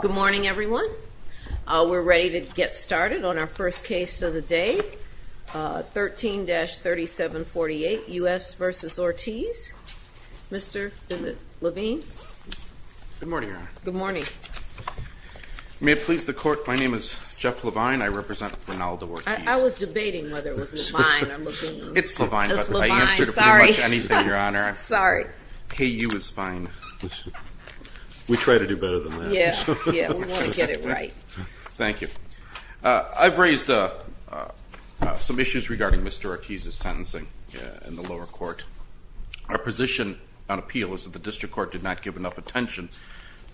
Good morning, everyone. We're ready to get started on our first case of the day, 13-3748 U.S. v. Ortiz. Mr. Levine. Good morning, Your Honor. Good morning. May it please the Court, my name is Jeff Levine. I represent Reynaldo Ortiz. I was debating whether it was Levine or Levine. It's Levine. It's Levine, sorry. I answer to pretty much anything, Your Honor. Sorry. Hey, you is fine. We try to do better than that. Yeah, we want to get it right. Thank you. I've raised some issues regarding Mr. Ortiz's sentencing in the lower court. Our position on appeal is that the district court did not give enough attention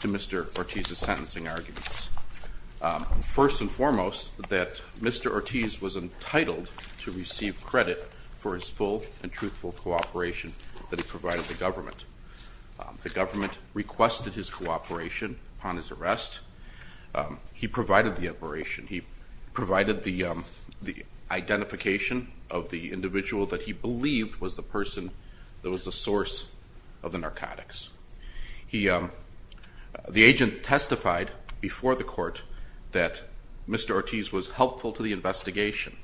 to Mr. Ortiz's sentencing arguments. First and foremost, that Mr. Ortiz was entitled to receive credit for his full and truthful cooperation that he provided the government. The government requested his cooperation upon his arrest. He provided the operation. He provided the identification of the individual that he believed was the person that was the source of the narcotics. The agent testified before the court that Mr. Ortiz was helpful to the investigation.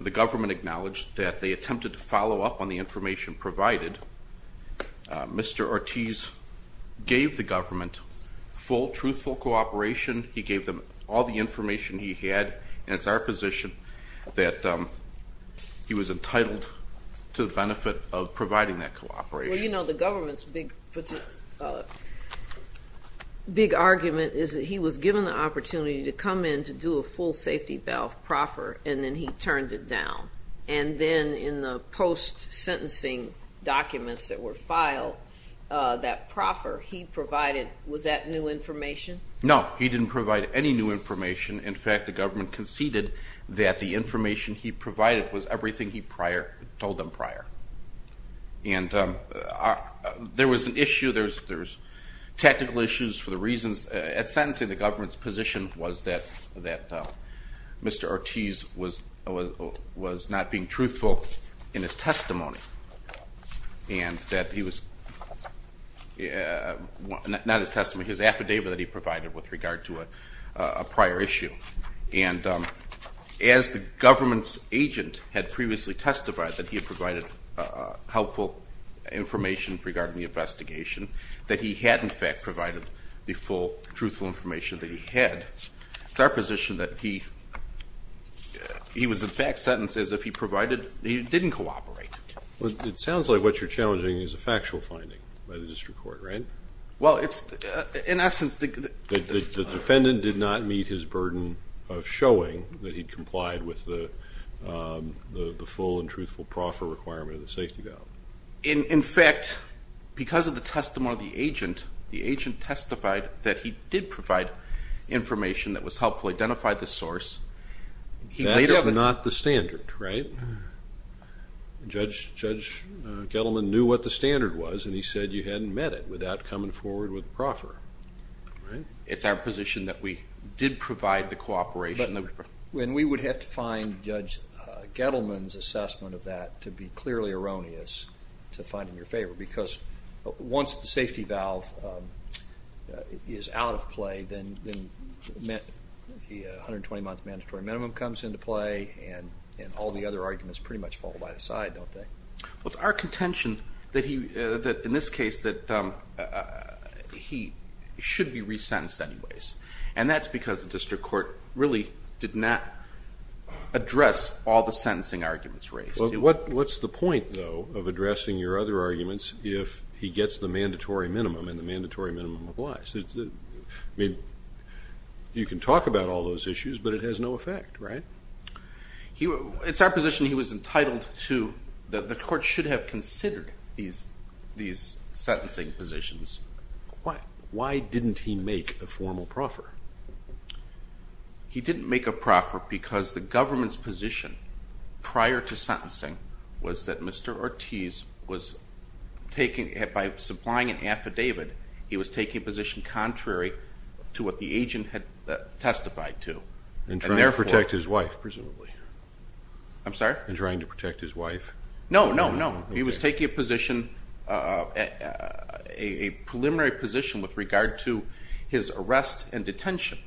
The government acknowledged that they attempted to follow up on the information provided. Mr. Ortiz gave the government full, truthful cooperation. He gave them all the information he had, and it's our position that he was entitled to the benefit of providing that cooperation. Well, you know, the government's big argument is that he was given the opportunity to come in to do a full safety valve proffer, and then he turned it down. And then in the post-sentencing documents that were filed, that proffer, he provided, was that new information? No, he didn't provide any new information. In fact, the government conceded that the information he provided was everything he told them prior. And there was an issue, there was technical issues for the reasons. At sentencing, the government's position was that Mr. Ortiz was not being truthful in his testimony, and that he was not his testimony, his affidavit that he provided with regard to a prior issue. And as the government's agent had previously testified that he had provided helpful information regarding the investigation, that he had, in fact, provided the full, truthful information that he had. It's our position that he was, in fact, sentenced as if he provided, he didn't cooperate. Well, it sounds like what you're challenging is a factual finding by the district court, right? Well, it's, in essence, the defendant did not meet his burden of showing that he complied with the full and truthful proffer requirement of the safety valve. In fact, because of the testimony of the agent, the agent testified that he did provide information that was helpful, identified the source. That's not the standard, right? Judge Gettleman knew what the standard was, and he said you hadn't met it without coming forward with the proffer. Right. It's our position that we did provide the cooperation. And we would have to find Judge Gettleman's assessment of that to be clearly erroneous to find in your favor, because once the safety valve is out of play, then the 120-month mandatory minimum comes into play, and all the other arguments pretty much fall by the side, don't they? Well, it's our contention that he, in this case, that he should be resentenced anyways, and that's because the district court really did not address all the sentencing arguments raised. Well, what's the point, though, of addressing your other arguments if he gets the mandatory minimum and the mandatory minimum applies? I mean, you can talk about all those issues, but it has no effect, right? It's our position he was entitled to, that the court should have considered these sentencing positions. Why didn't he make a formal proffer? He didn't make a proffer because the government's position prior to sentencing was that Mr. Ortiz was taking, by supplying an affidavit, he was taking a position contrary to what the agent had testified to. In trying to protect his wife, presumably. I'm sorry? In trying to protect his wife. No, no, no. He was taking a position, a preliminary position with regard to his arrest and detention,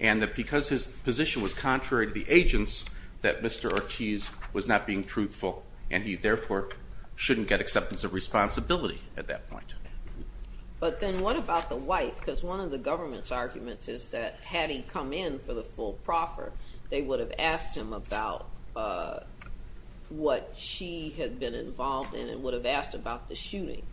and that because his position was contrary to the agent's, that Mr. Ortiz was not being truthful, and he, therefore, shouldn't get acceptance of responsibility at that point. But then what about the wife? Because one of the government's arguments is that had he come in for the full proffer, they would have asked him about what she had been involved in and would have asked about the shooting.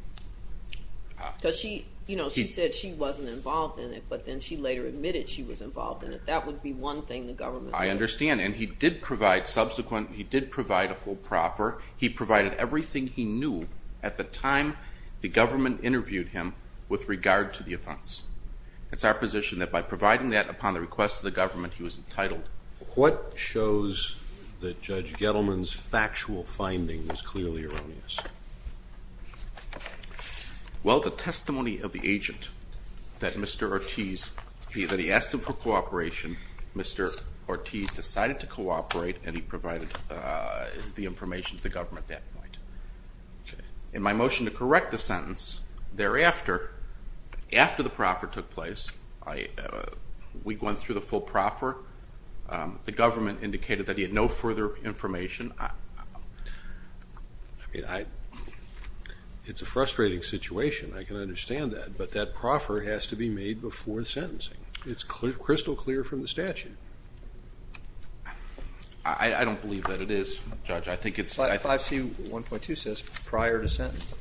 Because she, you know, she said she wasn't involved in it, but then she later admitted she was involved in it. That would be one thing the government would do. I understand, and he did provide subsequent, he did provide a full proffer. He provided everything he knew at the time the government interviewed him with regard to the offense. It's our position that by providing that upon the request of the government, he was entitled. What shows that Judge Gettleman's factual finding was clearly erroneous? Well, the testimony of the agent that Mr. Ortiz, that he asked him for cooperation, Mr. Ortiz decided to cooperate, and he provided the information to the government at that point. In my motion to correct the sentence, thereafter, after the proffer took place, we went through the full proffer. The government indicated that he had no further information. It's a frustrating situation. I can understand that, but that proffer has to be made before the sentencing. It's crystal clear from the statute. I don't believe that it is, Judge. I think it's 5C1.2 says prior to sentencing.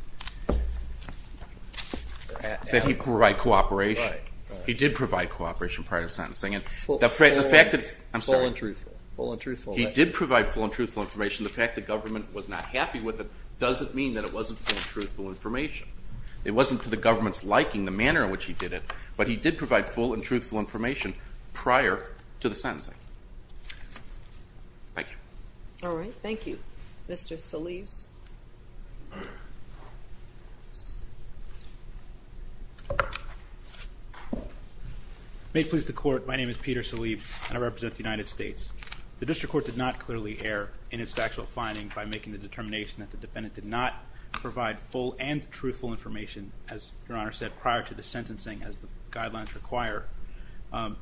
That he provided cooperation. Right. He did provide cooperation prior to sentencing. Full and truthful. I'm sorry. Full and truthful. He did provide full and truthful information. The fact the government was not happy with it doesn't mean that it wasn't full and truthful information. It wasn't to the government's liking, the manner in which he did it, but he did provide full and truthful information prior to the sentencing. Thank you. All right. Thank you. Mr. Salib. May it please the Court, my name is Peter Salib, and I represent the United States. The district court did not clearly err in its factual finding by making the determination that the defendant did not provide full and truthful information, as Your Honor said, prior to the sentencing as the guidelines require.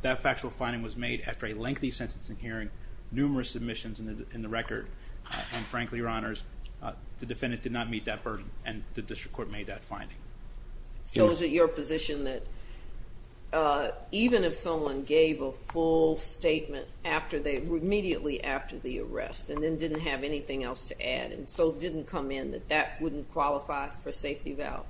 That factual finding was made after a lengthy sentencing hearing, numerous submissions in the record, and frankly, Your Honors, the defendant did not meet that burden, and the district court made that finding. So is it your position that even if someone gave a full statement immediately after the arrest, and then didn't have anything else to add, and so didn't come in, that that wouldn't qualify for a safety valve?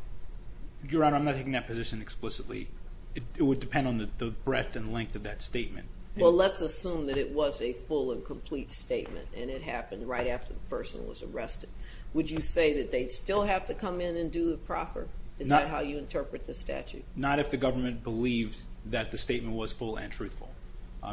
Your Honor, I'm not taking that position explicitly. It would depend on the breadth and length of that statement. Well, let's assume that it was a full and complete statement, and it happened right after the person was arrested. Would you say that they'd still have to come in and do the proffer? Is that how you interpret this statute? Not if the government believed that the statement was full and truthful.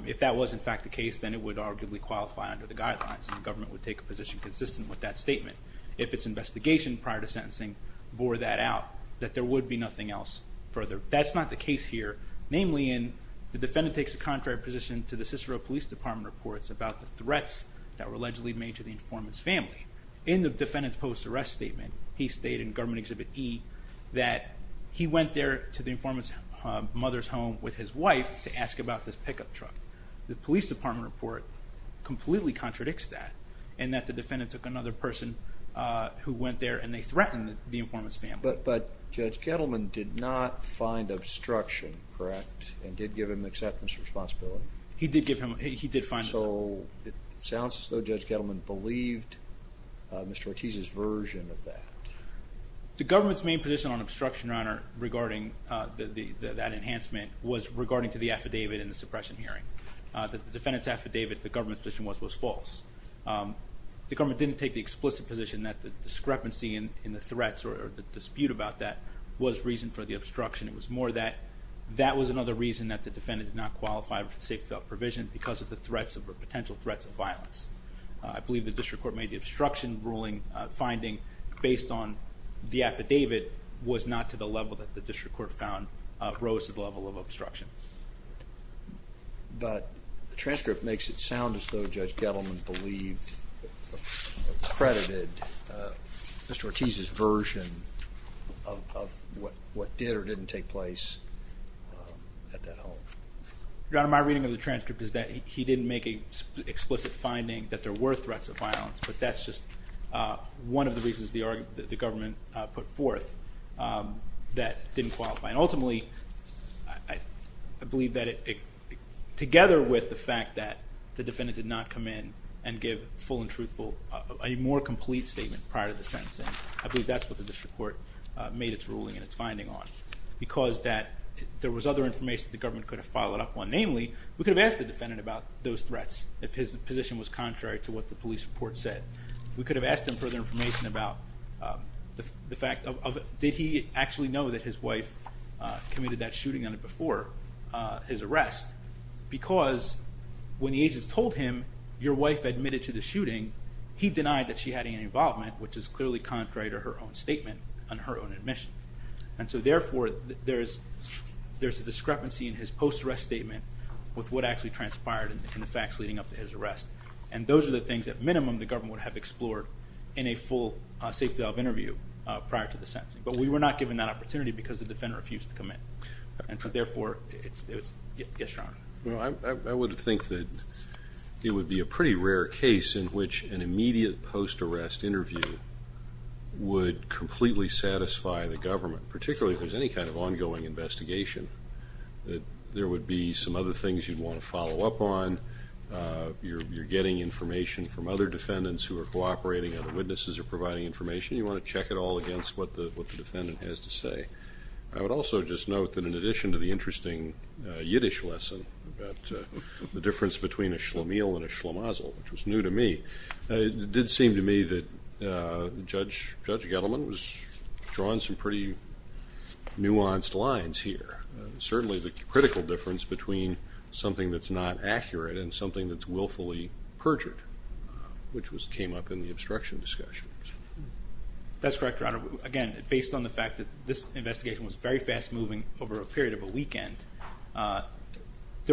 If that was, in fact, the case, then it would arguably qualify under the guidelines, and the government would take a position consistent with that statement. If its investigation prior to sentencing bore that out, that there would be nothing else further. That's not the case here, namely in the defendant takes a contrary position to the Cicero Police Department reports about the threats that were allegedly made to the informant's family. In the defendant's post-arrest statement, he stated in Government Exhibit E that he went there to the informant's mother's home with his wife to ask about this pickup truck. The Police Department report completely contradicts that, and that the defendant took another person who went there, and they threatened the informant's family. But Judge Kettleman did not find obstruction, correct, and did give him acceptance responsibility? He did find obstruction. So it sounds as though Judge Kettleman believed Mr. Ortiz's version of that. The government's main position on obstruction, Your Honor, regarding that enhancement, was regarding to the affidavit in the suppression hearing. The defendant's affidavit, the government's position was, was false. The government didn't take the explicit position that the discrepancy in the threats or the dispute about that was reason for the obstruction. It was more that that was another reason that the defendant did not qualify for the safety belt provision because of the threats or potential threats of violence. I believe the district court made the obstruction ruling finding based on the affidavit was not to the level that the district court found rose to the level of obstruction. But the transcript makes it sound as though Judge Kettleman believed, credited Mr. Ortiz's version of what did or didn't take place at that home. Your Honor, my reading of the transcript is that he didn't make an explicit finding that there were threats of violence, but that's just one of the reasons the government put forth that didn't qualify. And ultimately, I believe that it, together with the fact that the defendant did not come in and give full and truthful, a more complete statement prior to the sentencing, I believe that's what the district court made its ruling and its finding on. Because that, there was other information the government could have followed up on. Namely, we could have asked the defendant about those threats if his position was contrary to what the police report said. We could have asked him further information about the fact of, did he actually know that his wife committed that shooting before his arrest? Because when the agents told him, your wife admitted to the shooting, he denied that she had any involvement, which is clearly contrary to her own statement and her own admission. And so therefore, there's a discrepancy in his post-arrest statement with what actually transpired in the facts leading up to his arrest. And those are the things, at minimum, the government would have explored in a full safety valve interview prior to the sentencing. But we were not given that opportunity because the defendant refused to come in. And so therefore, it's, yes, Your Honor. Well, I would think that it would be a pretty rare case in which an immediate post-arrest interview would completely satisfy the government, particularly if there's any kind of ongoing investigation, that there would be some other things you'd want to follow up on. You're getting information from other defendants who are cooperating, and the witnesses are providing information. You want to check it all against what the defendant has to say. I would also just note that in addition to the interesting Yiddish lesson about the difference between a shlemiel and a shlemazel, which was new to me, it did seem to me that Judge Gettleman was drawing some pretty nuanced lines here. Certainly the critical difference between something that's not accurate and something that's willfully perjured, which came up in the obstruction discussions. That's correct, Your Honor. Again, based on the fact that this investigation was very fast-moving over a period of a weekend,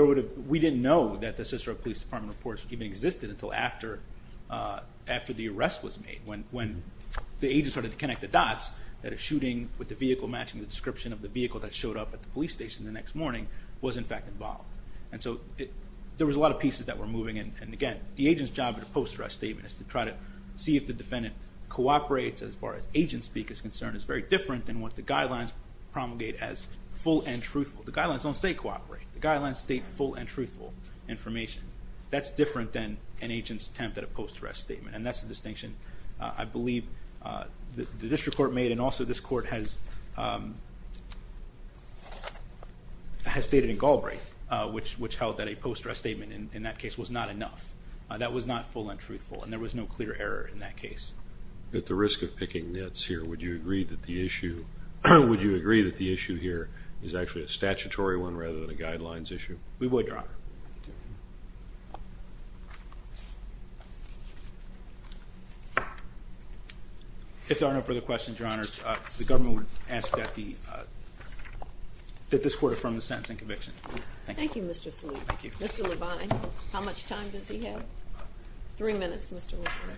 we didn't know that the Cicero Police Department reports even existed until after the arrest was made. When the agents started to connect the dots, that a shooting with the vehicle matching the description of the vehicle that showed up at the police station the next morning was in fact involved. And so there was a lot of pieces that were moving, and again, the agent's job in a post-arrest statement is to try to see if the defendant cooperates, as far as agent speak is concerned, is very different than what the guidelines promulgate as full and truthful. The guidelines don't say cooperate. The guidelines state full and truthful information. That's different than an agent's attempt at a post-arrest statement. And that's the distinction I believe the district court made and also this court has stated in Galbraith, which held that a post-arrest statement in that case was not enough. That was not full and truthful, and there was no clear error in that case. At the risk of picking nits here, would you agree that the issue here is actually a statutory one rather than a guidelines issue? We would, Your Honor. If there are no further questions, Your Honors, the government would ask that this court affirm the sentence and conviction. Thank you. Thank you, Mr. Salute. Thank you. Mr. Levine, how much time does he have? Three minutes, Mr. Levine.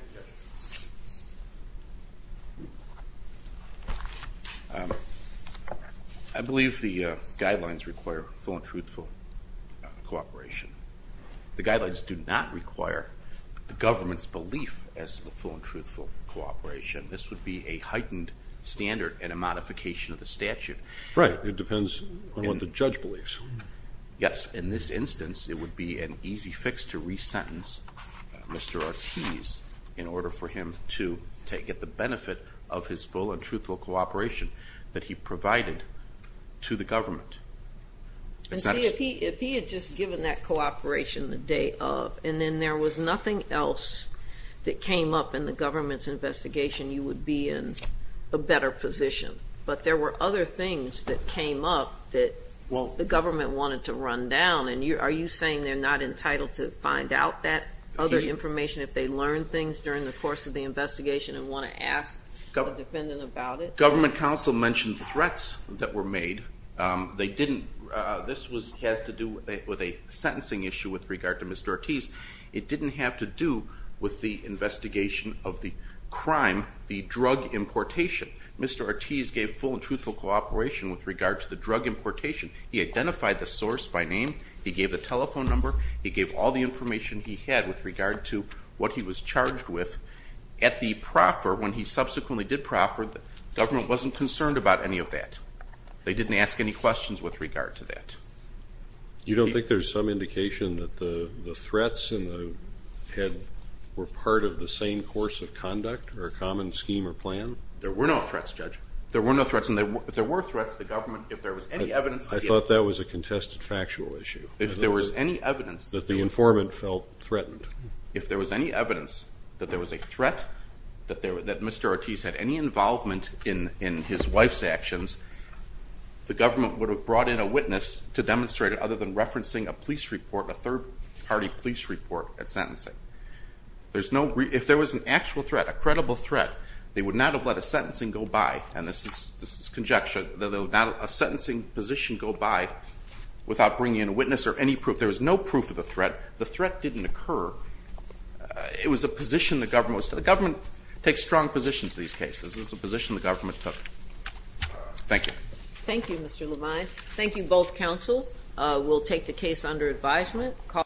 I believe the guidelines require full and truthful cooperation. The guidelines do not require the government's belief as to the full and truthful cooperation. This would be a heightened standard and a modification of the statute. Right. It depends on what the judge believes. Yes, in this instance, it would be an easy fix to resentence Mr. Ortiz in order for him to get the benefit of his full and truthful cooperation that he provided to the government. And see, if he had just given that cooperation the day of and then there was nothing else that came up in the government's investigation, you would be in a better position. But there were other things that came up that the government wanted to run down. And are you saying they're not entitled to find out that other information if they learned things during the course of the investigation and want to ask the defendant about it? Government counsel mentioned threats that were made. They didn't. This has to do with a sentencing issue with regard to Mr. Ortiz. It didn't have to do with the investigation of the crime, the drug importation. Mr. Ortiz gave full and truthful cooperation with regard to the drug importation. He identified the source by name. He gave the telephone number. He gave all the information he had with regard to what he was charged with. At the proffer, when he subsequently did proffer, the government wasn't concerned about any of that. They didn't ask any questions with regard to that. You don't think there's some indication that the threats were part of the same course of conduct or a common scheme or plan? There were no threats, Judge. There were no threats. And if there were threats, the government, if there was any evidence. I thought that was a contested factual issue. If there was any evidence. That the informant felt threatened. If there was any evidence that there was a threat, that Mr. Ortiz had any involvement in his wife's actions, the government would have brought in a witness to demonstrate it other than referencing a police report, a third-party police report at sentencing. If there was an actual threat, a credible threat, they would not have let a sentencing go by. And this is conjecture. They would not let a sentencing position go by without bringing in a witness or any proof. There was no proof of the threat. The threat didn't occur. It was a position the government was in. The government takes strong positions in these cases. This is a position the government took. Thank you. Thank you, Mr. Levine. Thank you, both counsel. We'll take the case under advisement.